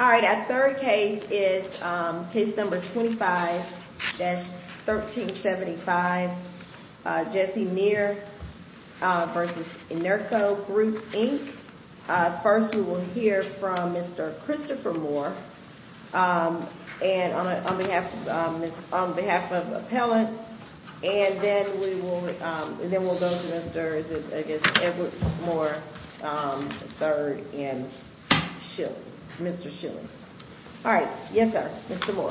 All right, our third case is case number 25-1375, Jesse Near v. Enerco Group, Inc. First, we will hear from Mr. Christopher Moore on behalf of the appellant. And then we will go to Mr. Edward Moore III and Mr. Schilling. All right. Yes, sir. Mr. Moore.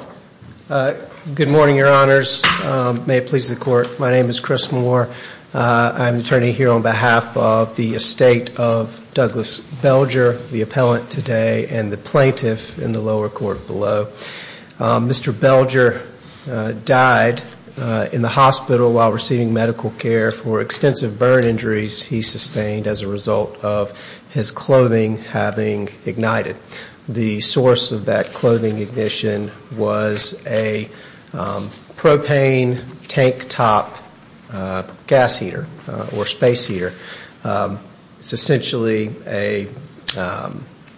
Good morning, Your Honors. May it please the Court. My name is Chris Moore. I'm the attorney here on behalf of the estate of Douglas Belger, the appellant today, and the plaintiff in the lower court below. Mr. Belger died in the hospital while receiving medical care for extensive burn injuries he sustained as a result of his clothing having ignited. The source of that clothing ignition was a propane tank top gas heater or space heater. It's essentially a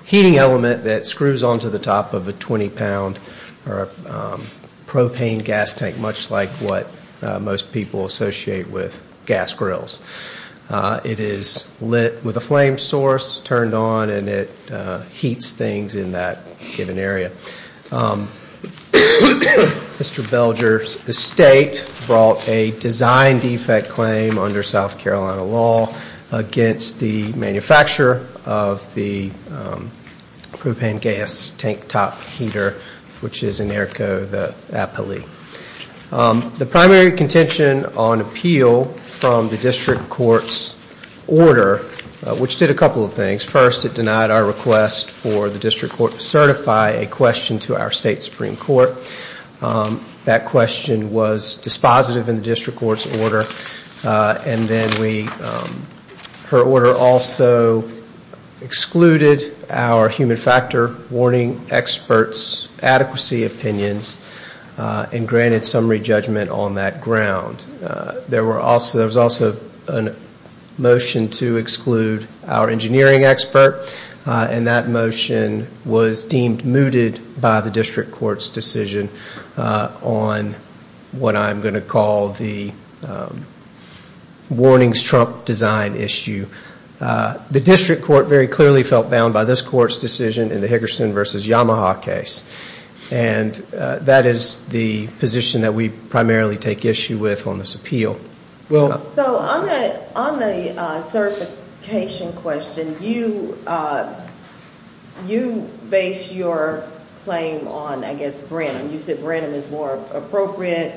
heating element that screws onto the top of a 20-pound propane gas tank much like what most people associate with gas grills. It is lit with a flame source turned on and it heats things in that given area. Mr. Belger's estate brought a design defect claim under South Carolina law against the manufacturer of the propane gas tank top heater, which is Enerco, the appellee. The primary contention on appeal from the district court's order, which did a couple of things. First, it denied our request for the district court to certify a question to our state supreme court. That question was dispositive in the district court's order. And then her order also excluded our human factor warning experts' adequacy opinions and granted summary judgment on that ground. There was also a motion to exclude our engineering expert. And that motion was deemed mooted by the district court's decision on what I'm going to call the warnings trump design issue. The district court very clearly felt bound by this court's decision in the Hickerson v. Yamaha case. And that is the position that we primarily take issue with on this appeal. So on the certification question, you base your claim on, I guess, Branham. You said Branham is more appropriate,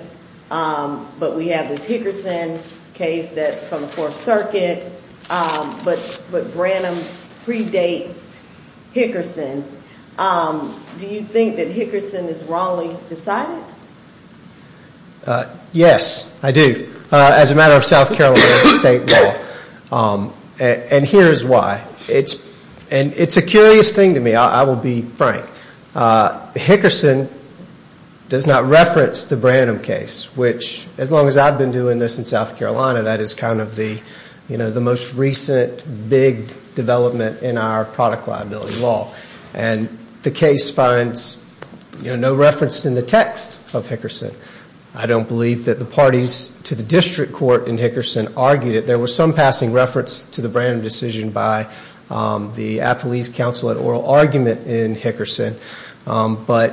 but we have this Hickerson case from the Fourth Circuit, but Branham predates Hickerson. Do you think that Hickerson is wrongly decided? Yes, I do, as a matter of South Carolina state law. And here is why. And it's a curious thing to me, I will be frank. Hickerson does not reference the Branham case, which, as long as I've been doing this in South Carolina, that is kind of the most recent big development in our product liability law. And the case finds no reference in the text of Hickerson. I don't believe that the parties to the district court in Hickerson argued it. There was some passing reference to the Branham decision by the Appalese Council at oral argument in Hickerson. But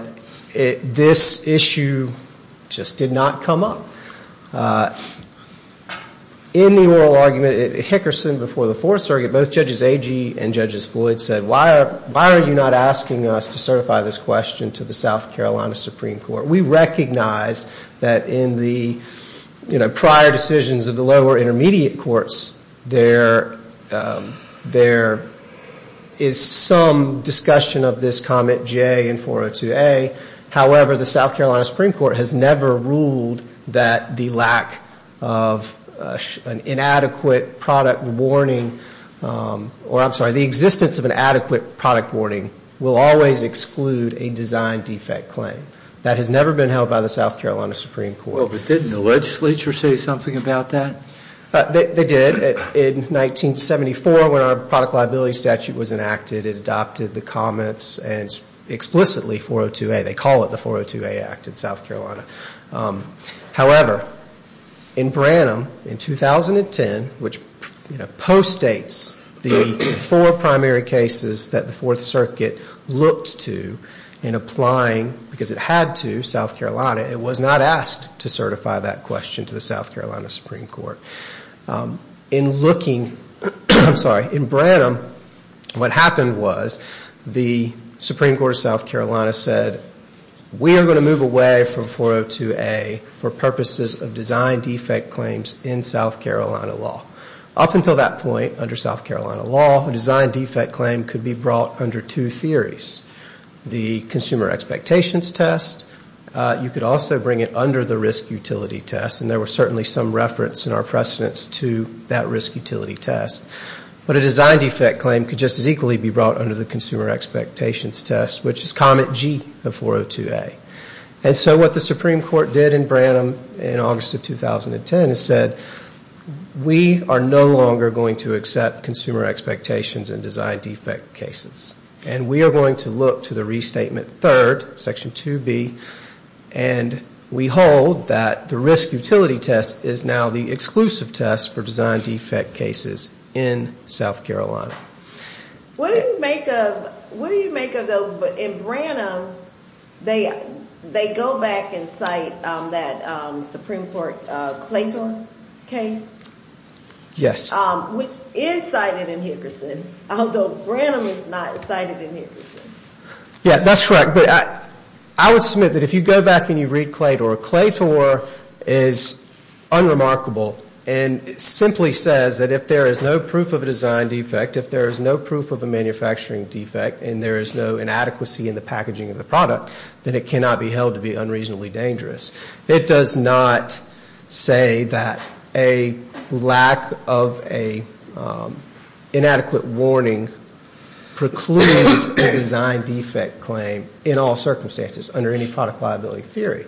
this issue just did not come up. In the oral argument at Hickerson before the Fourth Circuit, both Judges Agee and Judges Floyd said, why are you not asking us to certify this question to the South Carolina Supreme Court? We recognize that in the prior decisions of the lower intermediate courts, there is some discussion of this comment J in 402A. However, the South Carolina Supreme Court has never ruled that the lack of an inadequate product warning, or I'm sorry, the existence of an adequate product warning will always exclude a design defect claim. That has never been held by the South Carolina Supreme Court. Well, but didn't the legislature say something about that? They did. In 1974, when our product liability statute was enacted, it adopted the comments and explicitly 402A. They call it the 402A Act in South Carolina. However, in Branham in 2010, which postdates the four primary cases that the Fourth Circuit looked to in applying, had to South Carolina, it was not asked to certify that question to the South Carolina Supreme Court. In looking, I'm sorry, in Branham, what happened was the Supreme Court of South Carolina said, we are going to move away from 402A for purposes of design defect claims in South Carolina law. Up until that point under South Carolina law, a design defect claim could be brought under two theories. The consumer expectations test, you could also bring it under the risk utility test. And there was certainly some reference in our precedence to that risk utility test. But a design defect claim could just as equally be brought under the consumer expectations test, which is comment G of 402A. And so what the Supreme Court did in Branham in August of 2010 is said, we are no longer going to accept consumer expectations in design defect cases. And we are going to look to the restatement third, section 2B, and we hold that the risk utility test is now the exclusive test for design defect cases in South Carolina. What do you make of, in Branham, they go back and cite that Supreme Court Clayton case? Yes. I would submit that if you go back and you read Claytor, Claytor is unremarkable and simply says that if there is no proof of a design defect, if there is no proof of a manufacturing defect and there is no inadequacy in the packaging of the product, then it cannot be held to be unreasonably dangerous. It does not say that a lack of an inadequate warning precludes a design defect claim in all circumstances under any product liability theory.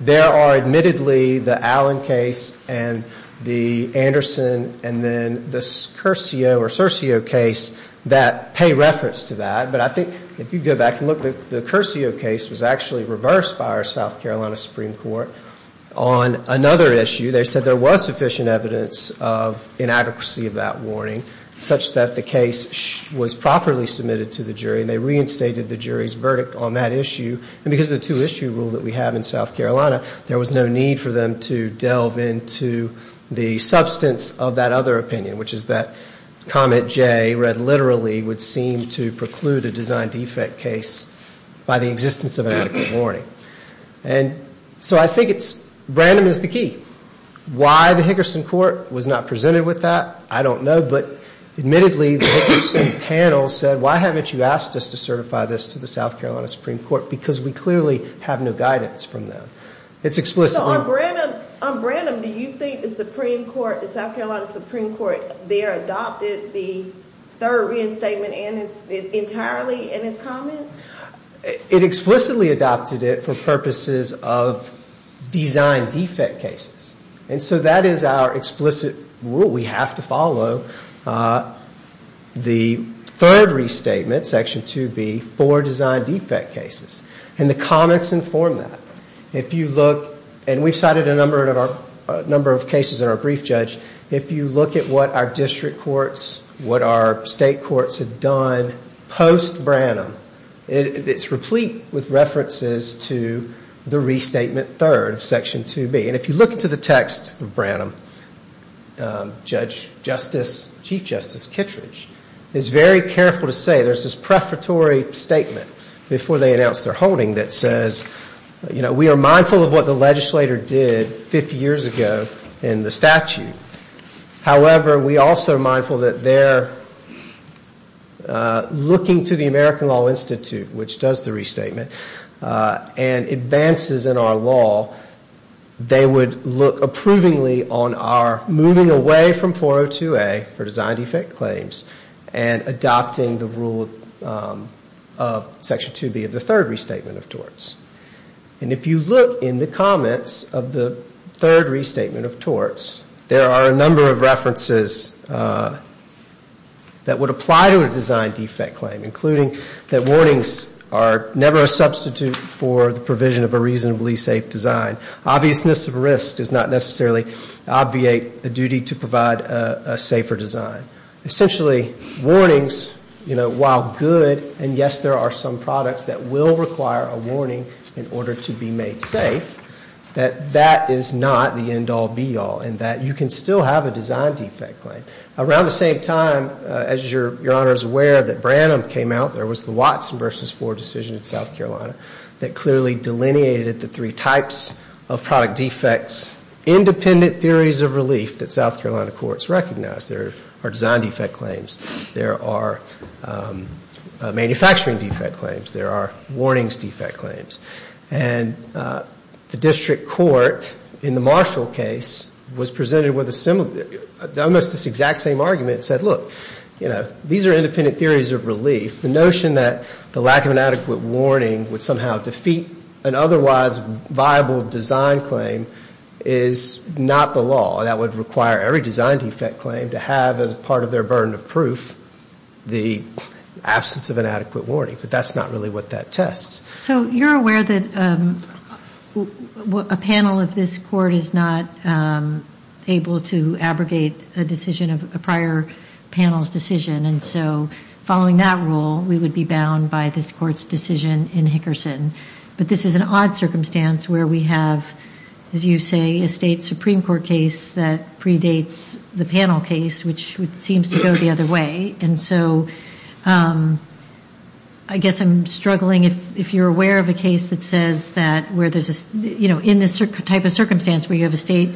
There are admittedly the Allen case and the Anderson and then the Curcio or Circio case that pay reference to that. But I think if you go back and look, the Curcio case was actually reversed by our South Carolina Supreme Court on another issue. They said there was sufficient evidence of inadequacy of that warning such that the case was properly submitted to the jury and they reinstated the jury's verdict on that issue. And because of the two-issue rule that we have in South Carolina, there was no need for them to delve into the substance of that other opinion, which is that comment Jay read literally would seem to preclude a design defect case by the existence of an adequate warning. And so I think it's, Branham is the key. Why the Hickerson court was not presented with that, I don't know, but admittedly the Hickerson panel said, why haven't you asked us to certify this to the South Carolina Supreme Court? Because we clearly have no guidance from them. So on Branham, do you think the Supreme Court, the South Carolina Supreme Court, there adopted the third reinstatement entirely in its comment? It explicitly adopted it for purposes of design defect cases. And so that is our explicit rule. We have to follow the third restatement, Section 2B, for design defect cases. And the comments inform that. If you look, and we've cited a number of cases in our brief, Judge, if you look at what our district courts, what our state courts have done post-Branham, it's replete with references to the restatement third, Section 2B. And if you look into the text of Branham, Chief Justice Kittredge is very careful to say, there's this prefatory statement before they announce their holding that says, you know, we are mindful of what the legislator did 50 years ago in the statute. However, we also are mindful that they're looking to the American Law Institute, which does the restatement, and advances in our law. They would look approvingly on our moving away from 402A for design defect claims and adopting the rule of Section 2B of the third restatement of torts. And if you look in the comments of the third restatement of torts, there are a number of references that would apply to a design defect claim, including that warnings are never a substitute for the provision of a reasonably safe design. Obviousness of risk does not necessarily obviate the duty to provide a safer design. Essentially, warnings, you know, while good, and yes, there are some products that will require a warning in order to be made safe, that that is not the end-all, be-all, in that you can still have a design defect claim. Around the same time, as Your Honor is aware, that Branham came out, there was the Watson v. Ford decision in South Carolina that clearly delineated the three types of product defects. Independent theories of relief that South Carolina courts recognize. There are design defect claims. There are manufacturing defect claims. There are warnings defect claims. And the district court in the Marshall case was presented with a similar, almost this exact same argument, said, look, you know, these are independent theories of relief. The notion that the lack of an adequate warning would somehow defeat an otherwise viable design claim is not the law. That would require every design defect claim to have as part of their burden of proof the absence of an adequate warning. But that's not really what that tests. So you're aware that a panel of this court is not able to abrogate a decision of a prior panel's decision. And so following that rule, we would be bound by this court's decision in Hickerson. But this is an odd circumstance where we have, as you say, a state Supreme Court case that predates the panel case, which seems to go the other way. And so I guess I'm struggling. If you're aware of a case that says that where there's a, you know, in this type of circumstance where you have a state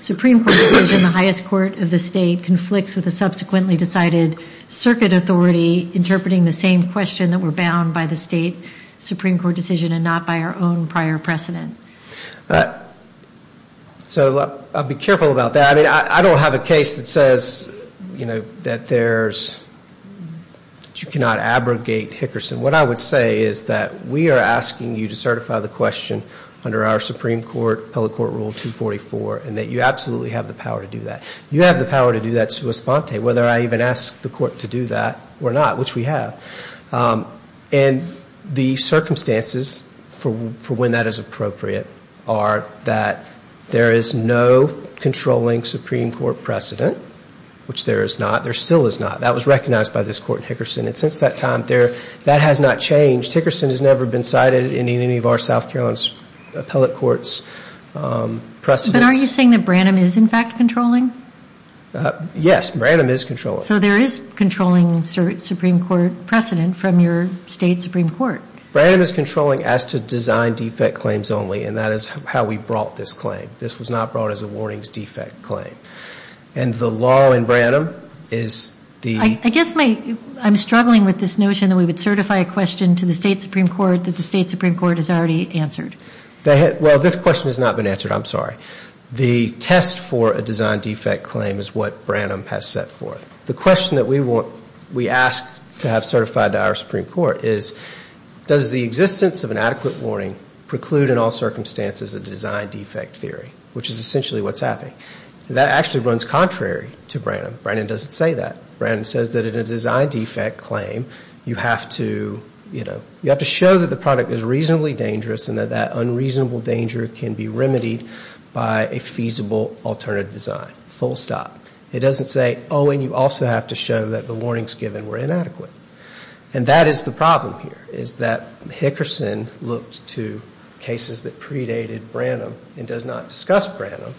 Supreme Court decision, the highest court of the state conflicts with a subsequently decided circuit authority interpreting the same question that we're bound by the state Supreme Court decision and not by our own prior precedent. So I'll be careful about that. But you cannot abrogate Hickerson. What I would say is that we are asking you to certify the question under our Supreme Court, appellate court rule 244, and that you absolutely have the power to do that. You have the power to do that sua sponte, whether I even ask the court to do that or not, which we have. And the circumstances for when that is appropriate are that there is no controlling Supreme Court precedent, which there is not. There still is not. That was recognized by this court in Hickerson. And since that time, that has not changed. Hickerson has never been cited in any of our South Carolina appellate courts. But are you saying that Branham is in fact controlling? Yes, Branham is controlling. So there is controlling Supreme Court precedent from your state Supreme Court. Branham is controlling as to design defect claims only, and that is how we brought this claim. This was not brought as a warnings defect claim. And the law in Branham is the... I guess I'm struggling with this notion that we would certify a question to the state Supreme Court that the state Supreme Court has already answered. Well, this question has not been answered. I'm sorry. The test for a design defect claim is what Branham has set forth. The question that we ask to have certified to our Supreme Court is, does the existence of an adequate warning preclude in all circumstances a design defect theory, which is essentially what's happening? That actually runs contrary to Branham. Branham doesn't say that. Branham says that in a design defect claim, you have to, you know, you have to show that the product is reasonably dangerous and that that unreasonable danger can be remedied by a feasible alternative design, full stop. It doesn't say, oh, and you also have to show that the warnings given were inadequate. And that is the problem here, is that Hickerson looked to cases that predated Branham and does not discuss Branham.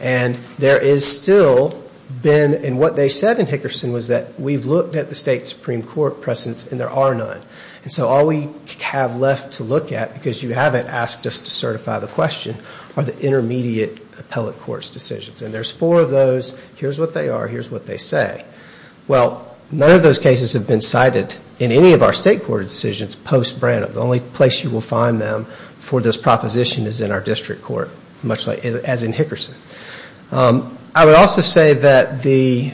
And there is still been... And what they said in Hickerson was that we've looked at the state Supreme Court precedents and there are none. And so all we have left to look at, because you haven't asked us to certify the question, are the intermediate appellate court's decisions. And there's four of those. Here's what they are. Here's what they say. Well, none of those cases have been cited in any of our state court decisions post Branham. The only place you will find them for this proposition is in our district court, much like, as in Hickerson. I would also say that the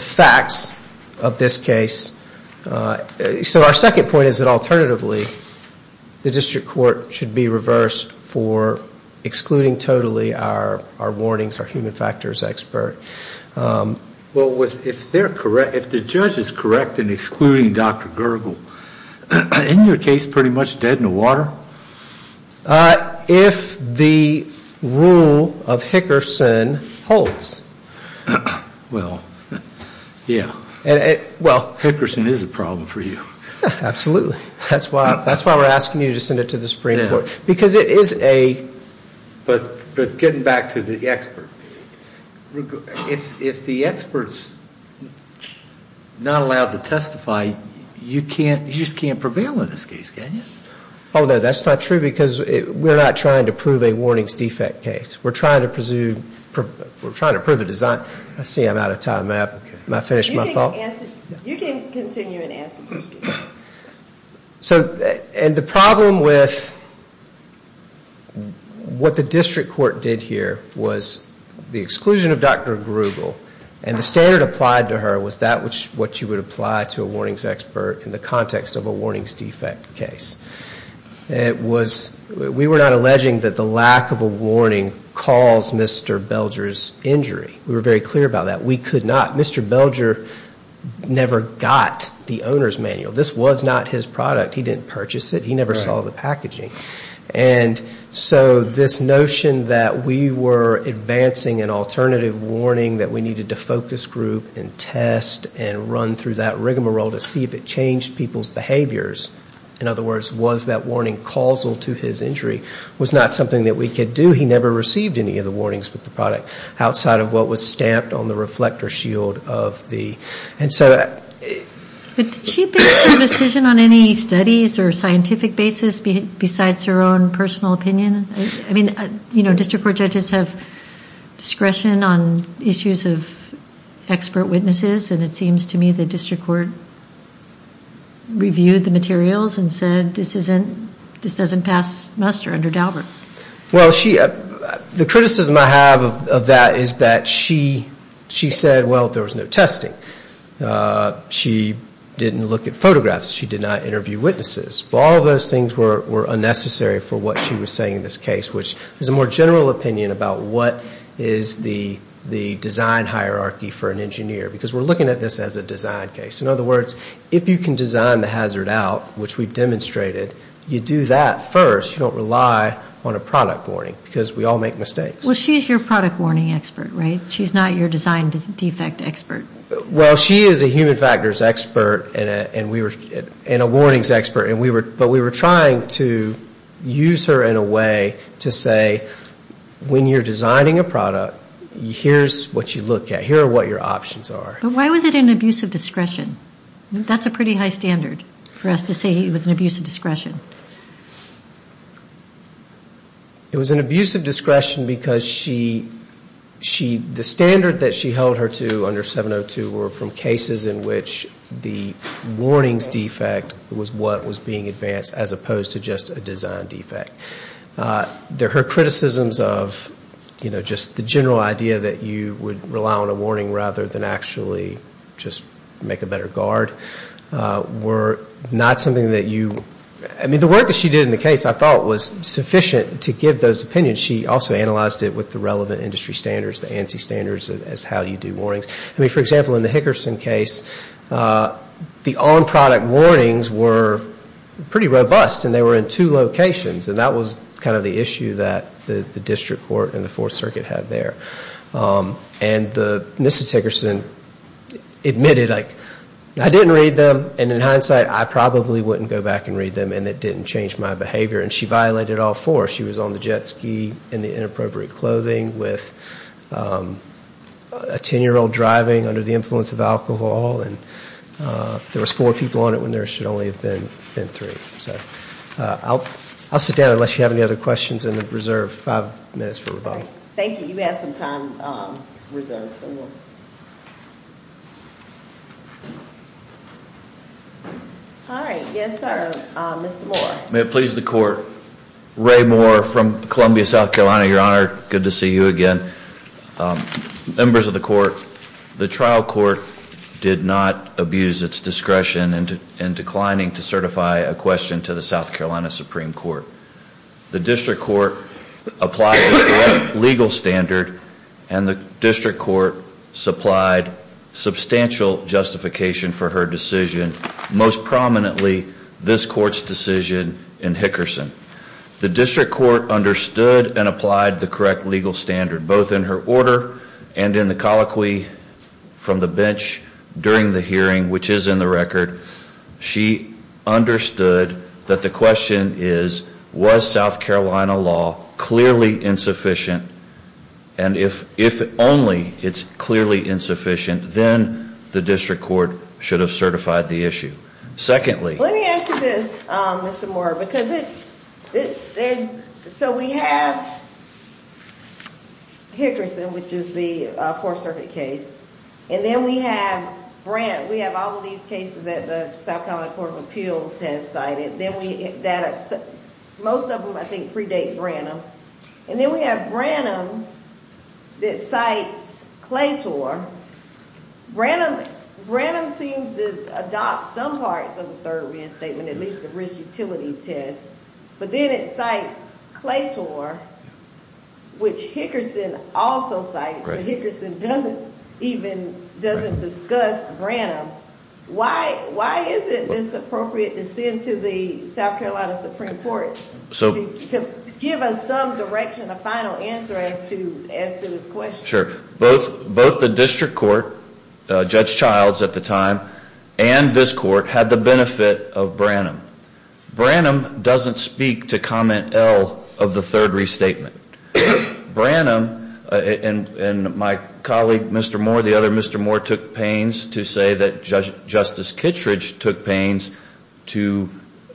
facts of this case, so our second point is that alternatively, the district court should be reversed for excluding totally our warnings, our human factors expert. Well, if they're correct, if the judge is correct in excluding Dr. Gergel, isn't your case pretty much dead in the water? If the rule of Hickerson holds. Well, yeah. Hickerson is a problem for you. Absolutely. That's why we're asking you to send it to the Supreme Court, because it is a... But getting back to the expert, if the expert's not allowed to testify, you just can't prevail in this case, can you? Oh, no, that's not true, because we're not trying to prove a warnings defect case. We're trying to prove a design. I see I'm out of time. You can continue and answer. So, and the problem with what the district court did here was the exclusion of Dr. Gergel, and the standard applied to her was that which you would apply to a warnings expert in the context of a warnings defect case. It was, we were not alleging that the lack of a warning caused Mr. Belger's injury. We were very clear about that. We could not, Mr. Belger never got the owner's manual. This was not his product. He didn't purchase it. He never saw the packaging. And so this notion that we were advancing an alternative warning, that we needed to focus group and test and run through that rigmarole to see if it changed people's behaviors, in other words, was that warning causal to his injury, was not something that we could do. He never received any of the warnings with the product outside of what was stamped on the reflector shield of the, and so. Did she make a decision on any studies or scientific basis besides her own personal opinion? I mean, you know, district court judges have discretion on issues of expert witnesses, and it seems to me the district court reviewed the materials and said this isn't, this doesn't pass muster under Daubert. Well, she, the criticism I have of that is that she, she said, well, there was no testing. She didn't look at photographs. She did not interview witnesses. All those things were unnecessary for what she was saying in this case, which is a more general opinion about what is the design hierarchy for an engineer, because we're looking at this as a design case. In other words, if you can design the hazard out, which we've demonstrated, you do that first. You don't rely on a product warning, because we all make mistakes. Well, she's your product warning expert, right? She's not your design defect expert. Well, she is a human factors expert and a warnings expert, but we were trying to use her in a way to say when you're designing a product, here's what you look at. Here are what your options are. But why was it an abuse of discretion? That's a pretty high standard for us to say it was an abuse of discretion. It was an abuse of discretion because she, the standard that she held her to under 702 were from cases in which the warnings defect was what was being advanced as opposed to just a design defect. Her criticisms of just the general idea that you would rely on a warning rather than actually just make a better guard were not something that you, I mean the work that she did in the case I thought was sufficient to give those opinions. She also analyzed it with the relevant industry standards, the ANSI standards as how you do warnings. I mean, for example, in the Hickerson case, the on-product warnings were pretty robust and they were in two locations. And that was kind of the issue that the district court and the Fourth Circuit had there. And Mrs. Hickerson admitted, I didn't read them and in hindsight I probably wouldn't go back and read them and it didn't change my behavior. And she violated all four. She was on the jet ski in the inappropriate clothing with a ten-year-old driving under the influence of alcohol and there was four people on it when there should only have been three. So I'll sit down unless you have any other questions and reserve five minutes for rebuttal. All right. Thank you. You have some time reserved. All right. Yes, sir. Mr. Moore. May it please the court. Ray Moore from Columbia, South Carolina, Your Honor. Good to see you again. Members of the court, the trial court did not abuse its discretion in declining to certify a question to the South Carolina Supreme Court. The district court applied the correct legal standard and the district court supplied substantial justification for her decision, most prominently this court's decision in Hickerson. The district court understood and applied the correct legal standard, both in her order and in the colloquy from the bench during the hearing, which is in the record, she understood that the question is was South Carolina law clearly insufficient and if only it's clearly insufficient, then the district court should have certified the issue. Secondly... Let me ask you this, Mr. Moore, because it's so we have Hickerson, which is one of the cases that the South Carolina Court of Appeals has cited, most of them I think predate Branham, and then we have Branham that cites Claytor. Branham seems to adopt some parts of the third reinstatement, at least the risk utility test, but then it cites Claytor, which Hickerson also cites, but Hickerson doesn't discuss Branham. Why is it inappropriate to send to the South Carolina Supreme Court to give us some direction, a final answer as to this question? Sure. Both the district court, Judge Childs at the time, and this court had the benefit of Branham. Branham doesn't speak to comment L of the third restatement. Branham and my colleague Mr. Moore, the other Mr. Moore, took pains to say that Justice Kittredge took pains to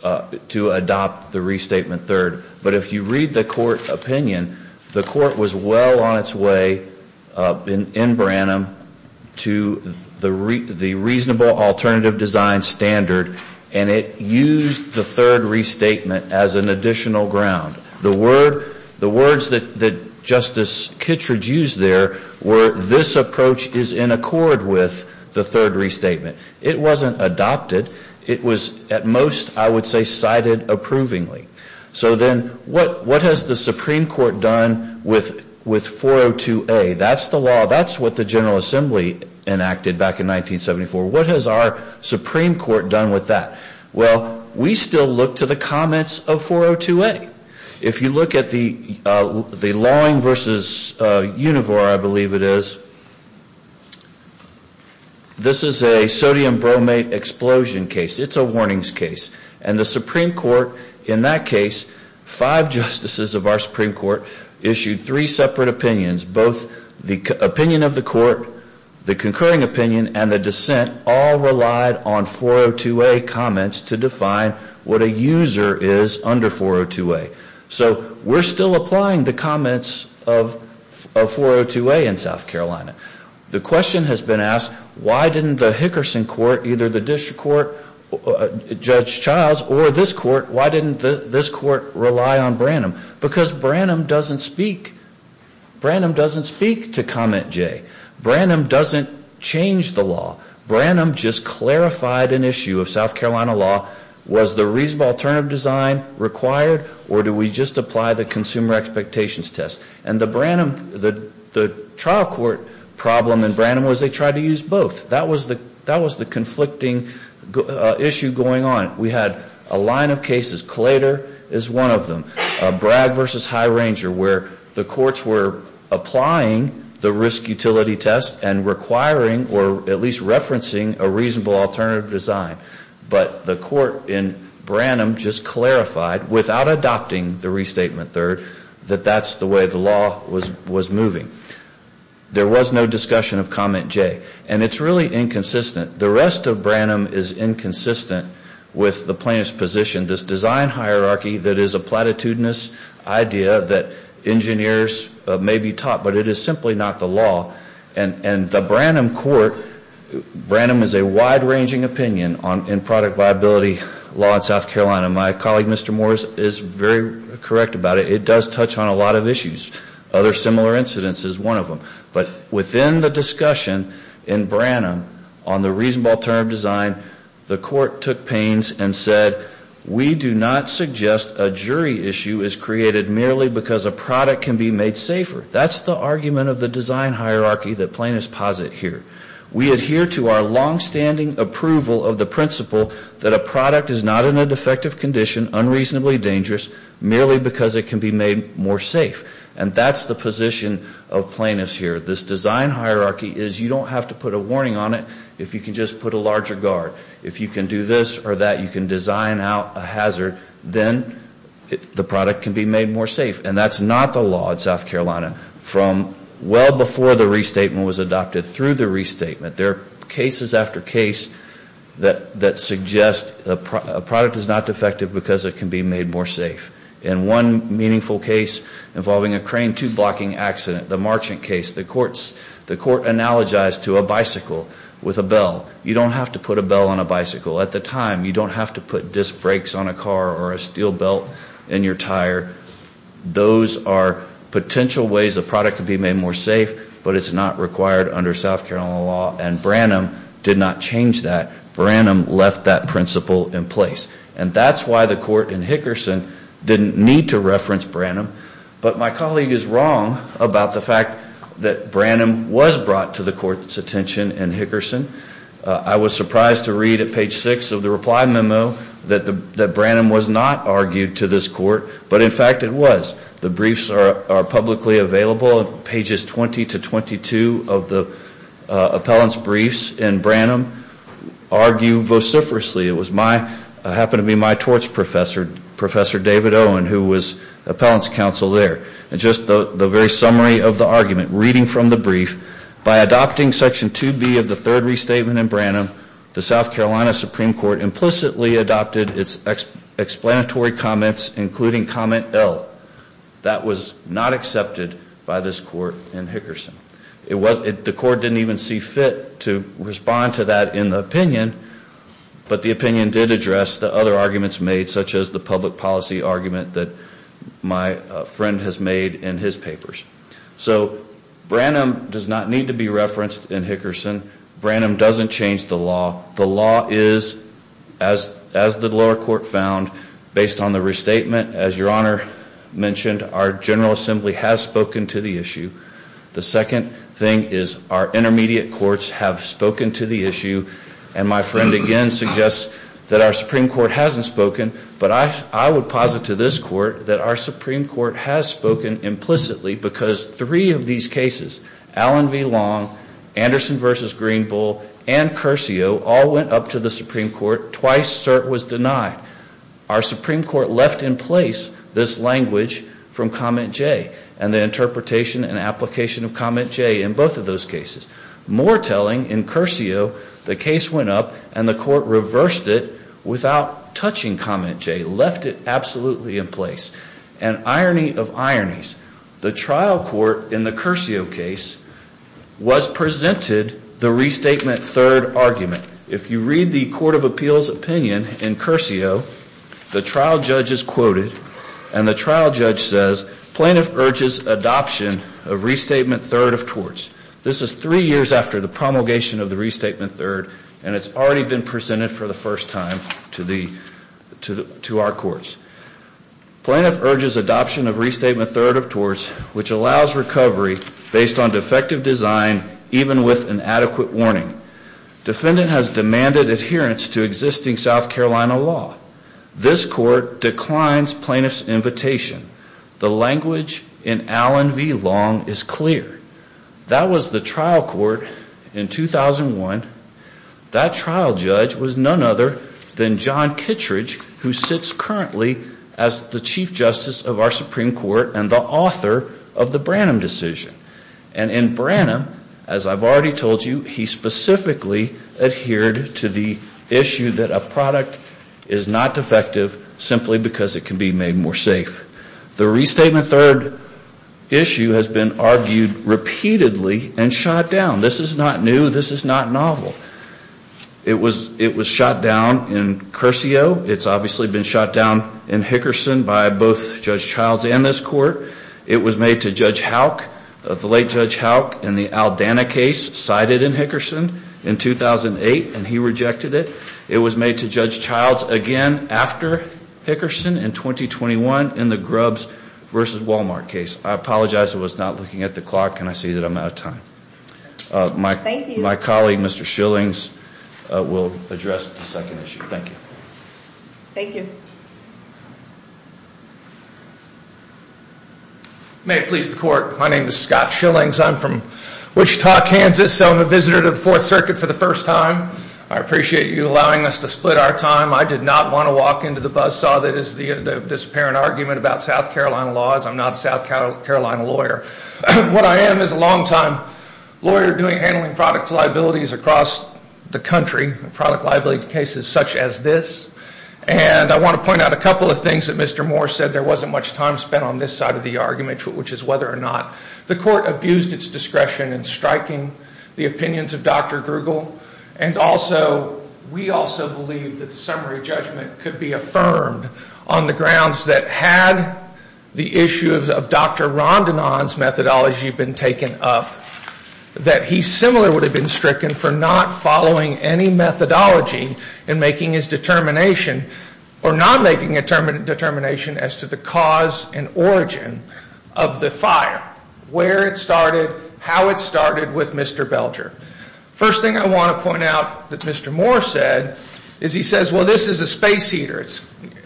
adopt the restatement third, but if you read the court opinion, the court was well on its way in Branham to the reasonable alternative design standard, and it used the third restatement as an additional ground. The words that Justice Kittredge used there were this approach is in accord with the third restatement. It wasn't adopted. It was at most, I would say, cited approvingly. So then what has the Supreme Court done with 402A? That's the law. That's what the General Assembly enacted back in 1974. What has our Supreme Court done with that? Well, we still look to the comments of 402A. If you look at the Lawing v. Univore, I believe it is, this is a sodium bromate explosion case. It's a warnings case. And the Supreme Court in that case, five justices of our Supreme Court issued three separate opinions. Both the opinion of the court, the concurring opinion, and the dissent all relied on 402A comments to define what a user is under 402A. So we're still applying the comments of 402A in South Carolina. The question has been asked, why didn't the Hickerson court, either the district court, Judge Childs, or this court, why didn't this court rely on Branham? Because Branham doesn't speak. Branham doesn't speak to comment J. Branham doesn't change the law. Branham just clarified an issue of South Carolina law. Was the reasonable alternative design required, or do we just apply the consumer expectations test? And the Branham, the issue going on, we had a line of cases, Claytor is one of them, Bragg v. High Ranger, where the courts were applying the risk utility test and requiring, or at least referencing, a reasonable alternative design. But the court in Branham just clarified, without adopting the restatement third, that that's the way the law was moving. There was no discussion of comment J. And it's really inconsistent. The rest of Branham is inconsistent with the plaintiff's position. This design hierarchy that is a platitudinous idea that engineers may be taught, but it is simply not the law. And the Branham court, Branham is a wide-ranging opinion in product liability law in South Carolina. My colleague, Mr. Moore, is very correct about it. It does touch on a lot of issues. Other similar incidents is one of them. But within the discussion in Branham on the reasonable alternative design, the court took pains and said, we do not suggest a jury issue is created merely because a product can be made safer. That's the argument of the design hierarchy that plaintiffs posit here. We adhere to our longstanding approval of the principle that a product is not in a defective condition, unreasonably dangerous, merely because it can be made more safe. And that's the position of plaintiffs here. This design hierarchy is you don't have to put a warning on it if you can just put a larger guard. If you can do this or that, you can design out a hazard, then the product can be made more safe. And that's not the law in South Carolina. From well before the restatement was adopted through the restatement, there are cases after case that suggest a product is not defective because it can be made more safe. And one meaningful case involving a crane tube blocking accident, the Marchant case, the court analogized to a bicycle with a bell. You don't have to put a bell on a bicycle at the time. You don't have to put disc brakes on a car or a steel belt in your tire. Those are potential ways a product can be made more safe, but it's not required under South Carolina law. And Branham did not change that. Branham left that principle in place. And that's why the court in Hickerson didn't need to reference Branham. But my colleague is wrong about the fact that Branham was brought to the court's attention in Hickerson. I was surprised to read at page 6 of the reply memo that fact it was. The briefs are publicly available. Pages 20 to 22 of the appellant's briefs in Branham argue vociferously. It happened to be my torts professor, Professor David Owen, who was appellant's counsel there. And just the very summary of the argument, reading from the brief, by adopting section 2B of the third restatement in Branham, the South Carolina Supreme Court implicitly adopted its explanatory comments, including comment L. That was not accepted by this court in Hickerson. The court didn't even see fit to respond to that in the opinion, but the opinion did address the other arguments made, such as the public policy argument that my friend has made in his papers. So Branham does not need to be referenced in Hickerson. Branham doesn't change the law. The law is, as the lower court found, based on the restatement, as your Honor mentioned, our General Assembly has spoken to the issue. The second thing is our intermediate courts have spoken to the issue. And my friend again suggests that our Supreme Court hasn't spoken. But I would posit to this court that our Supreme Court has spoken implicitly because three of these cases, Allen v. Long, Anderson v. Greenbull, and Curcio, all went up to the Supreme Court. Twice, cert was denied. Our Supreme Court left in place this language from comment J and the interpretation and application of comment J in both of those cases. More telling, in Curcio, the case went up and the court reversed it without touching comment J, left it absolutely in place. And irony of ironies, the trial court in the Curcio case did not touch comment J. It was presented the restatement third argument. If you read the Court of Appeals opinion in Curcio, the trial judge is quoted, and the trial judge says, Plaintiff urges adoption of restatement third of torts. This is three years after the promulgation of the restatement third, and it's already been presented for the first time to our courts. Plaintiff urges adoption of restatement third of torts, which again, even with an adequate warning. Defendant has demanded adherence to existing South Carolina law. This court declines plaintiff's invitation. The language in Allen v. Long is clear. That was the trial court in 2001. That trial judge was none other than John Kittredge, who sits currently as the Chief Justice of our Supreme Court and the defendant, as I've already told you, he specifically adhered to the issue that a product is not defective simply because it can be made more safe. The restatement third issue has been argued repeatedly and shot down. This is not new. This is not novel. It was shot down in Curcio. It's obviously been shot down in Hickerson by both Judge Childs and this court. It was made to Judge Houck. The late Judge Houck in the Aldana case cited in Hickerson in 2008, and he rejected it. It was made to Judge Childs again after Hickerson in 2021 in the Grubbs v. Walmart case. I apologize. I was not looking at the clock, and I see that I'm out of time. My colleague, Mr. Schillings, will address the second issue. Thank you. Thank you. May it please the court. My name is Scott Schillings. I'm from Wichita, Kansas. I'm a visitor to the Fourth Circuit for the first time. I appreciate you allowing us to split our time. I did not want to walk into the buzzsaw that is this apparent argument about South Carolina laws. I'm not a South Carolina lawyer. What I am is a longtime lawyer handling product liabilities across the country, product liability cases such as this. And I want to point out a couple of things that Mr. Moore said. There wasn't much time spent on this side of the argument, which is whether or not the court abused its discretion in striking the opinions of Dr. Grugel. And also, we also believe that the summary judgment could be affirmed on the grounds that had the issues of Dr. Rondinon's methodology been taken up, that he similarly would have been doing the same thing if he had been stricken for not following any methodology in making his determination or not making a determination as to the cause and origin of the fire, where it started, how it started with Mr. Belger. First thing I want to point out that Mr. Moore said is he says, well, this is a space heater.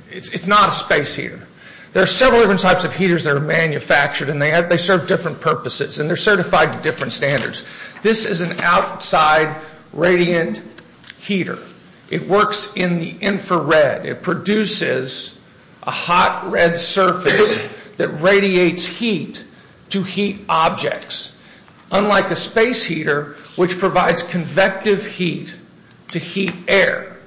It's not a space heater. There are several different types of heaters that are manufactured, and they serve different purposes, and they're certified to different purposes. This is an outside radiant heater. It works in the infrared. It produces a hot red surface that radiates heat to heat objects, unlike a space heater, which provides convective heat to heat air.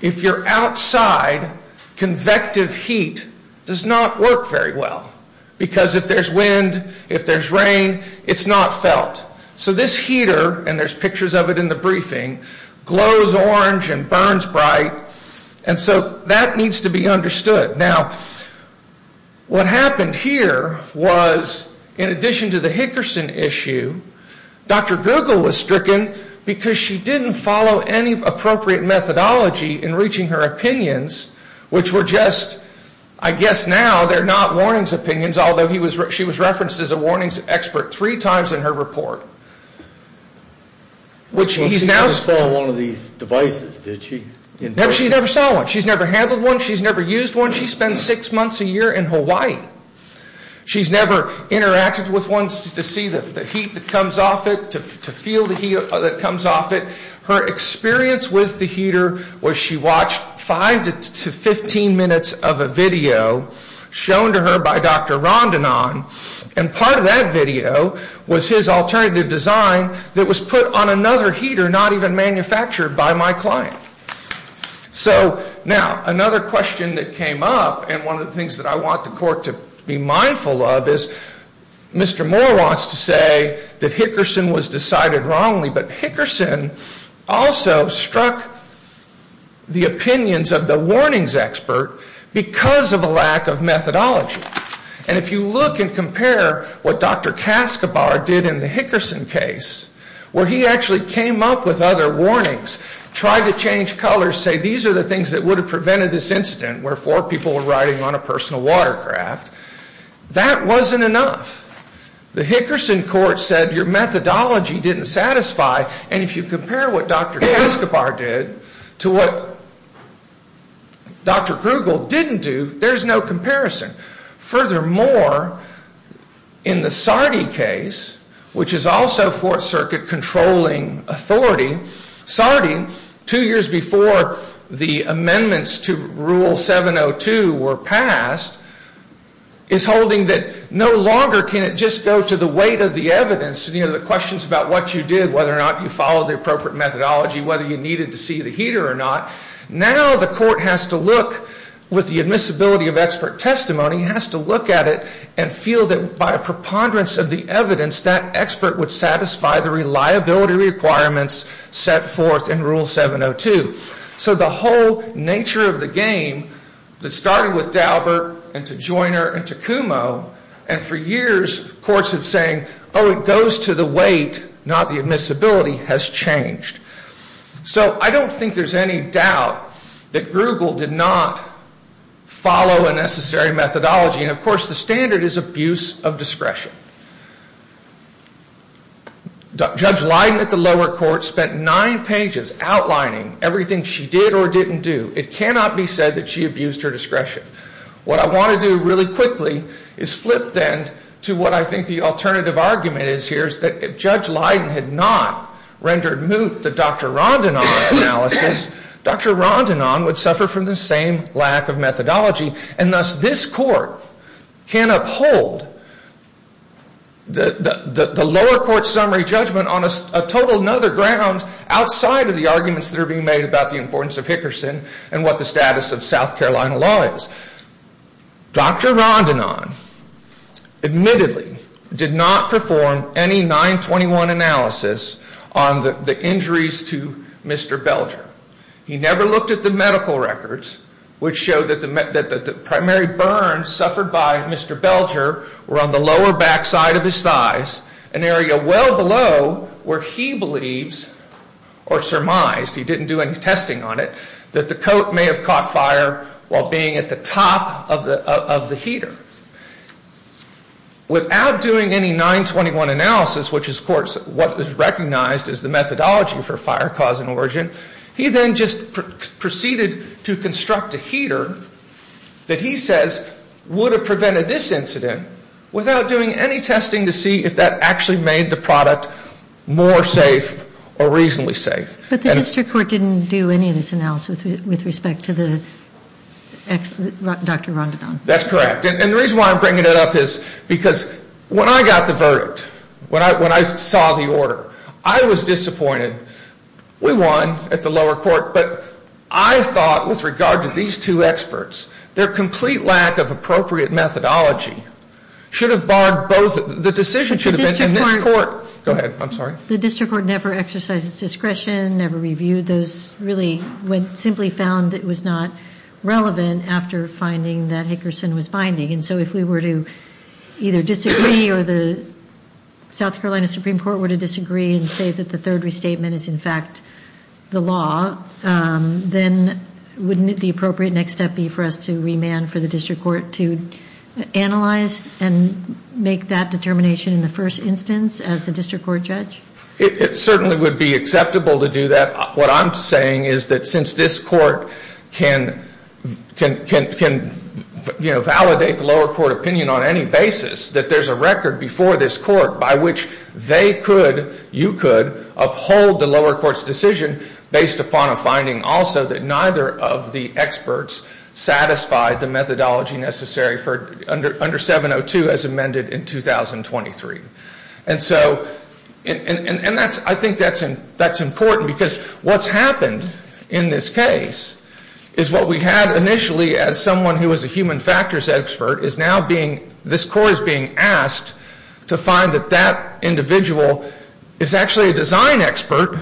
If you're outside, convective heat does not work very well because if there's wind, if there's rain, it's not felt. So this heater, and there's pictures of it in the briefing, glows orange and burns bright, and so that needs to be understood. Now, what happened here was, in addition to the Hickerson issue, Dr. Google was stricken because she didn't follow any appropriate methodology in reaching her opinions, which were just, I guess now they're not warnings opinions, although she was referenced as a warnings expert three times in her report. She never saw one. She's never handled one. She's never used one. She spends six months a year in Hawaii. She's never interacted with one to see the heat that comes off it, to feel the heat that comes off it. Her experience with the heater was she watched five to 15 minutes of a video shown to her by Dr. Google, and it was his alternative design that was put on another heater not even manufactured by my client. So, now, another question that came up, and one of the things that I want the court to be mindful of, is Mr. Moore wants to say that Hickerson was decided wrongly, but Hickerson also struck the opinions of the warnings expert because of a lack of methodology. And if you look and compare what Dr. Caskobar did in his report to what he did in the Hickerson case, where he actually came up with other warnings, tried to change colors, say these are the things that would have prevented this incident where four people were riding on a personal watercraft, that wasn't enough. The Hickerson court said your methodology didn't satisfy, and if you compare what Dr. Caskobar did to what Dr. Google didn't do, there's no comparison. Furthermore, in the Sardi case, which is also Fourth Circuit controlling authority, Sardi, two years before the amendments to Rule 702 were passed, is holding that no longer can it just go to the weight of the evidence, the questions about what you did, whether or not you followed the appropriate methodology, whether you needed to see the expert or not. Now the court has to look, with the admissibility of expert testimony, has to look at it and feel that by a preponderance of the evidence, that expert would satisfy the reliability requirements set forth in Rule 702. So the whole nature of the game that started with Daubert and to Joiner and to Kumo, and for years courts have said, oh, it goes to the weight, not the admissibility, has changed. So I don't think there's anything wrong with that. I don't have any doubt that Google did not follow a necessary methodology, and of course the standard is abuse of discretion. Judge Leiden at the lower court spent nine pages outlining everything she did or didn't do. It cannot be said that she abused her discretion. What I want to do really quickly is flip then to what I think the alternative argument is here, is that if Judge Leiden had not rendered moot the Dr. Rondinon analysis, Dr. Rondinon would suffer from the same lack of methodology, and thus this court can uphold the lower court summary judgment on a total another ground outside of the arguments that are being made about the importance of Hickerson and what the status of South Carolina law is. Dr. Rondinon admittedly did not perform any 921 analysis on the injuries to Mr. Belger. He never looked at the medical records, which showed that the primary burns suffered by Mr. Belger were on the lower back side of his thighs, an area well below where he believes or surmised, he didn't do any testing on it, that the coat may have caught fire while being at the top of the heater. Without doing any 921 analysis, which is of course what is recognized as the methodology for fire cause and origin, he then just proceeded to construct a heater that he says would have prevented this incident without doing any testing to see if that actually made the product more safe or reasonably safe. But the district court didn't do any of this analysis with respect to Dr. Rondinon. That's correct. And the reason why I'm bringing it up is because when I got the verdict, when I saw the order, I was disappointed. We won at the lower court, but I thought with regard to these two experts, their complete lack of appropriate methodology should have barred both. The decision should have been in this court. Go ahead. I'm sorry. The district court never exercised its discretion, never reviewed those, really simply found it was not relevant after finding that Hickerson was binding. And so if we were to either disagree or the South Carolina Supreme Court were to disagree and say that the third restatement is in fact the law, then wouldn't the appropriate next step be for us to remand for the district court to analyze and make that determination in the first instance as the district court judge? It certainly would be acceptable to do that. What I'm saying is that since this court can validate the lower court opinion on any basis, that there's a record before this court by which they could, you could, uphold the lower court's decision based upon a finding also that neither of the experts satisfied the methodology necessary under 702 as amended in 2023. And so, and that's, I think that's important because what's happened in this case is what we had initially as someone who was a human factors expert is now being, this court is being asked to find that that individual is actually a design expert,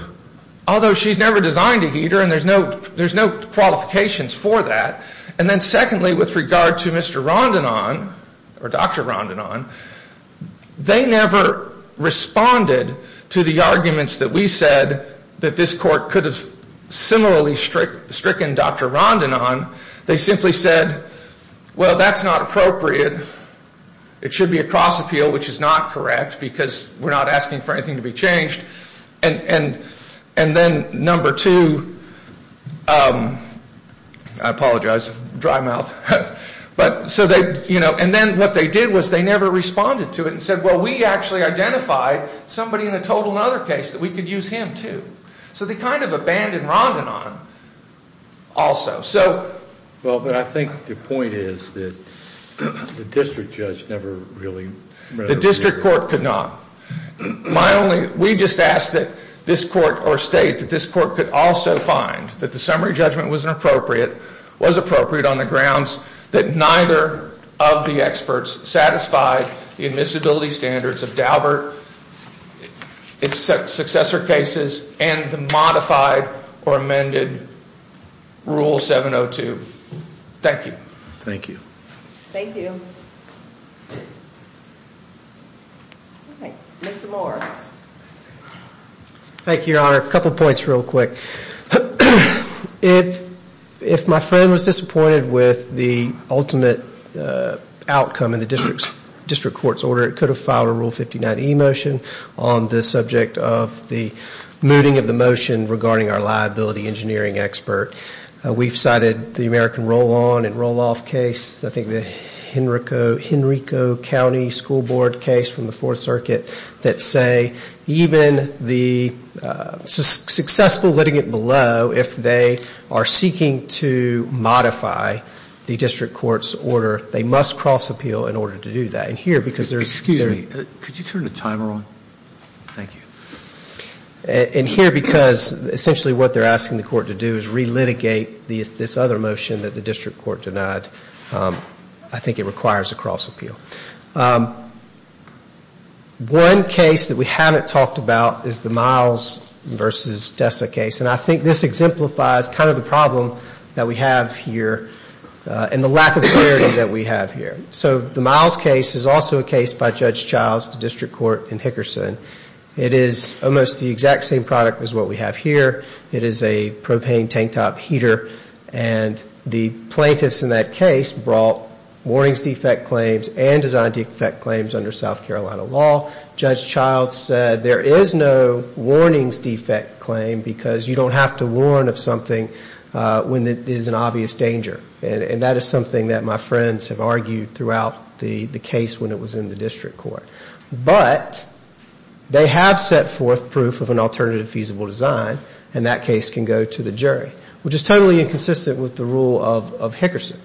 although she's never designed a heater and there's no qualifications for that. And then secondly, with regard to Mr. Rondinon, they never responded to the arguments that we said that this court could have similarly stricken Dr. Rondinon. They simply said, well, that's not appropriate. It should be a cross appeal, which is not correct because we're not asking for anything to be changed. And then number two, I apologize, dry mouth, but so they, you know, and then what they did was they never responded to it and said, well, we actually identified somebody in a total and other case that we could use him too. So they kind of abandoned Rondinon also. So. Well, but I think the point is that the district judge never really. The district court could not. My only, we just asked that this court or state that this court could also find that the summary judgment wasn't appropriate, was appropriate on the grounds that neither of the experts satisfied the methodology necessary to satisfy the admissibility standards of Daubert, its successor cases and the modified or amended rule 702. Thank you. Thank you. Thank you. Mr. Moore. Thank you, Your Honor. A couple points real quick. If my friend was disappointed with the ultimate outcome in the district's district court's order, it could have filed a rule 59 emotion on the subject of the mooting of the motion regarding our liability engineering expert. We've cited the American roll on and roll off case. I think the Henrico Henrico County School Board case from the Fourth Circuit that say even the successful litigant below, if they are seeking to modify the district court's order, they must cross appeal in order to do that. And here, because there's. Excuse me. Could you turn the timer on? Thank you. And here, because essentially what they're asking the court to do is relitigate this other motion that the district court denied. I think it requires a cross appeal. One case that we haven't talked about is the Miles v. Dessa case. And I think this exemplifies kind of the problem that we have here and the lack of clarity that we have here. So the Miles case is also a case by Judge Childs, the district court in Hickerson. It is almost the exact same product as what we have here. It is a propane tank top heater. And the plaintiffs in that case brought warnings defect claims and design defect claims under South Carolina law. Judge Childs said there is no warnings defect claim because you don't have to warn of something when it is an obvious danger. And that is something that my friends have argued throughout the case when it was in the district court. But they have set forth proof of an alternative feasible design. And that case can go to the jury, which is totally inconsistent with the rule of Hickerson.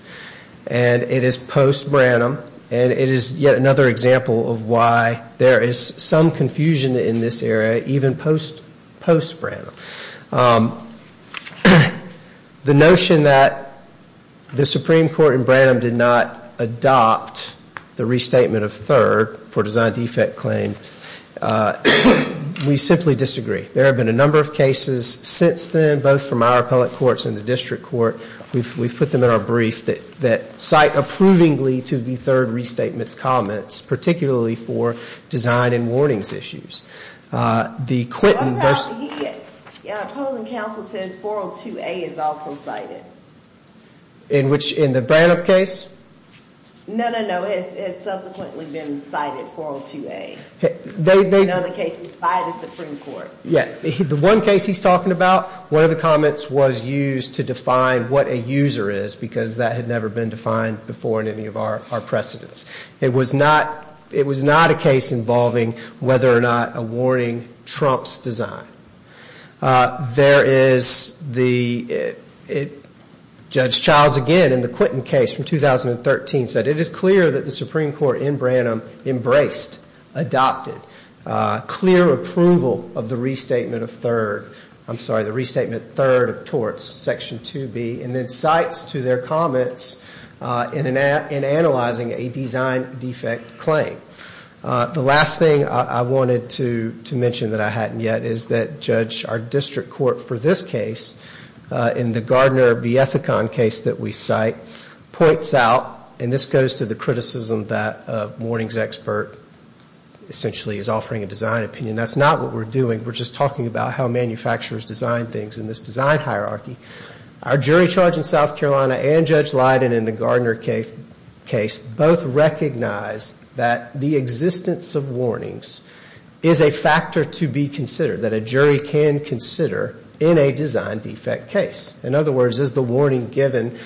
And it is post-Branham. And it is yet another example of why there is some confusion in this area, even post-Branham. The notion that the Supreme Court in Branham did not adopt the restatement of third for design defect claim, we simply disagree. There have been a number of cases since then, both from our appellate courts and the district court. We have put them in our brief that cite approvingly to the third restatement's comments, particularly for design and warnings issues. The Quinton version. In which, in the Branham case? The one case he is talking about, one of the comments was used to define what a user is, because that had never been defined before in any of our precedents. It was not a case involving whether or not a warning trumps design. There is the Judge Childs again in the Quinton case from 2013 said it is clear that the Supreme Court in Branham embraced, adopted, clear approval of the restatement of third. I'm sorry, the restatement third of torts, section 2B. And then cites to their comments in analyzing a design defect claim. The last thing I wanted to mention that I hadn't yet is that Judge, our district court for this case, in the Gardner Biethycon case that we cite, points out, and this goes to the criticism that a warnings expert essentially is offering a design opinion. That's not what we're doing. We're just talking about how manufacturers design things in this design hierarchy. Our jury charge in South Carolina and Judge Leiden in the Gardner case both recognize that the existence of warnings is a factor to be considered, that a jury can consider in a design defect case. In other words, is the warning given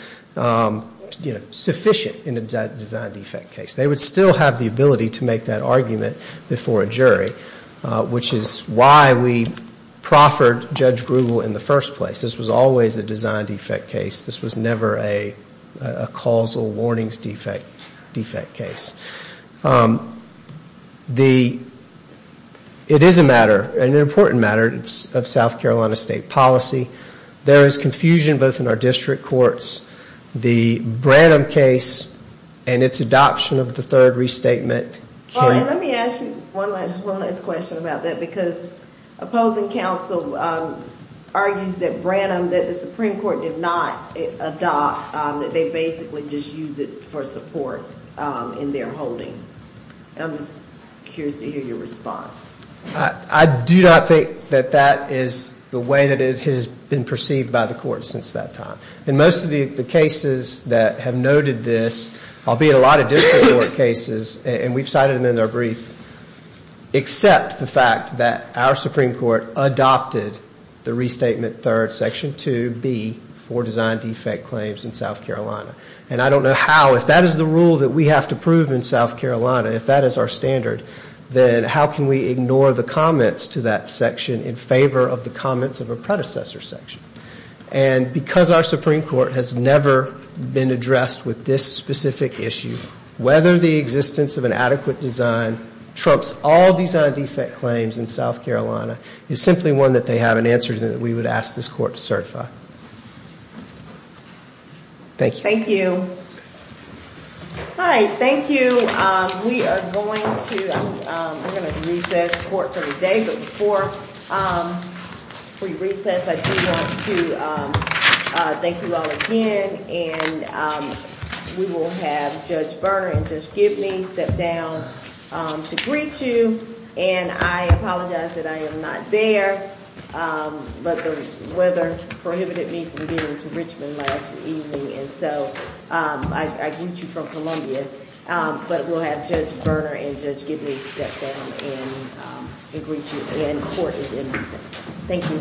sufficient in a design defect case? They would still have the ability to make that argument before a jury, which is why we proffered Judge Grugel in the first place. This was always a design defect case. This was never a causal warnings defect case. The, it is a matter, an important matter of South Carolina state policy. There is confusion both in our district courts. The Branham case and its adoption of the third restatement. Let me ask you one last question about that, because opposing counsel argues that Branham, that the Supreme Court did not adopt, that they basically just used it for support in their holding. I'm just curious to hear your response. I do not think that that is the way that it has been perceived by the court since that time. In most of the cases that have noted this, albeit a lot of district court cases, and we've cited them in our brief, except the fact that our Supreme Court adopted the restatement third, section 2B for design defect claims in South Carolina. And I don't know how, if that is the rule that we have to prove in South Carolina, if that is our standard, then how can we ignore the comments to that section in favor of the comments of a predecessor section? And because our Supreme Court has never been addressed with this specific issue, whether the existence of an adequate design trumps all design defect claims in South Carolina is simply one that they have an answer to that we would ask this court to certify. Thank you. All right, thank you. We are going to, we're going to recess for today, but before we recess, I do want to thank you all again, and we will have Judge Berner and Judge Gibney step down to greet you, and I apologize that I am not there, but the weather prohibited me from getting to Richmond last evening, and so I greet you from Columbia, but we'll have Judge Berner and Judge Gibney step down and greet you, and court is in recess. Thank you.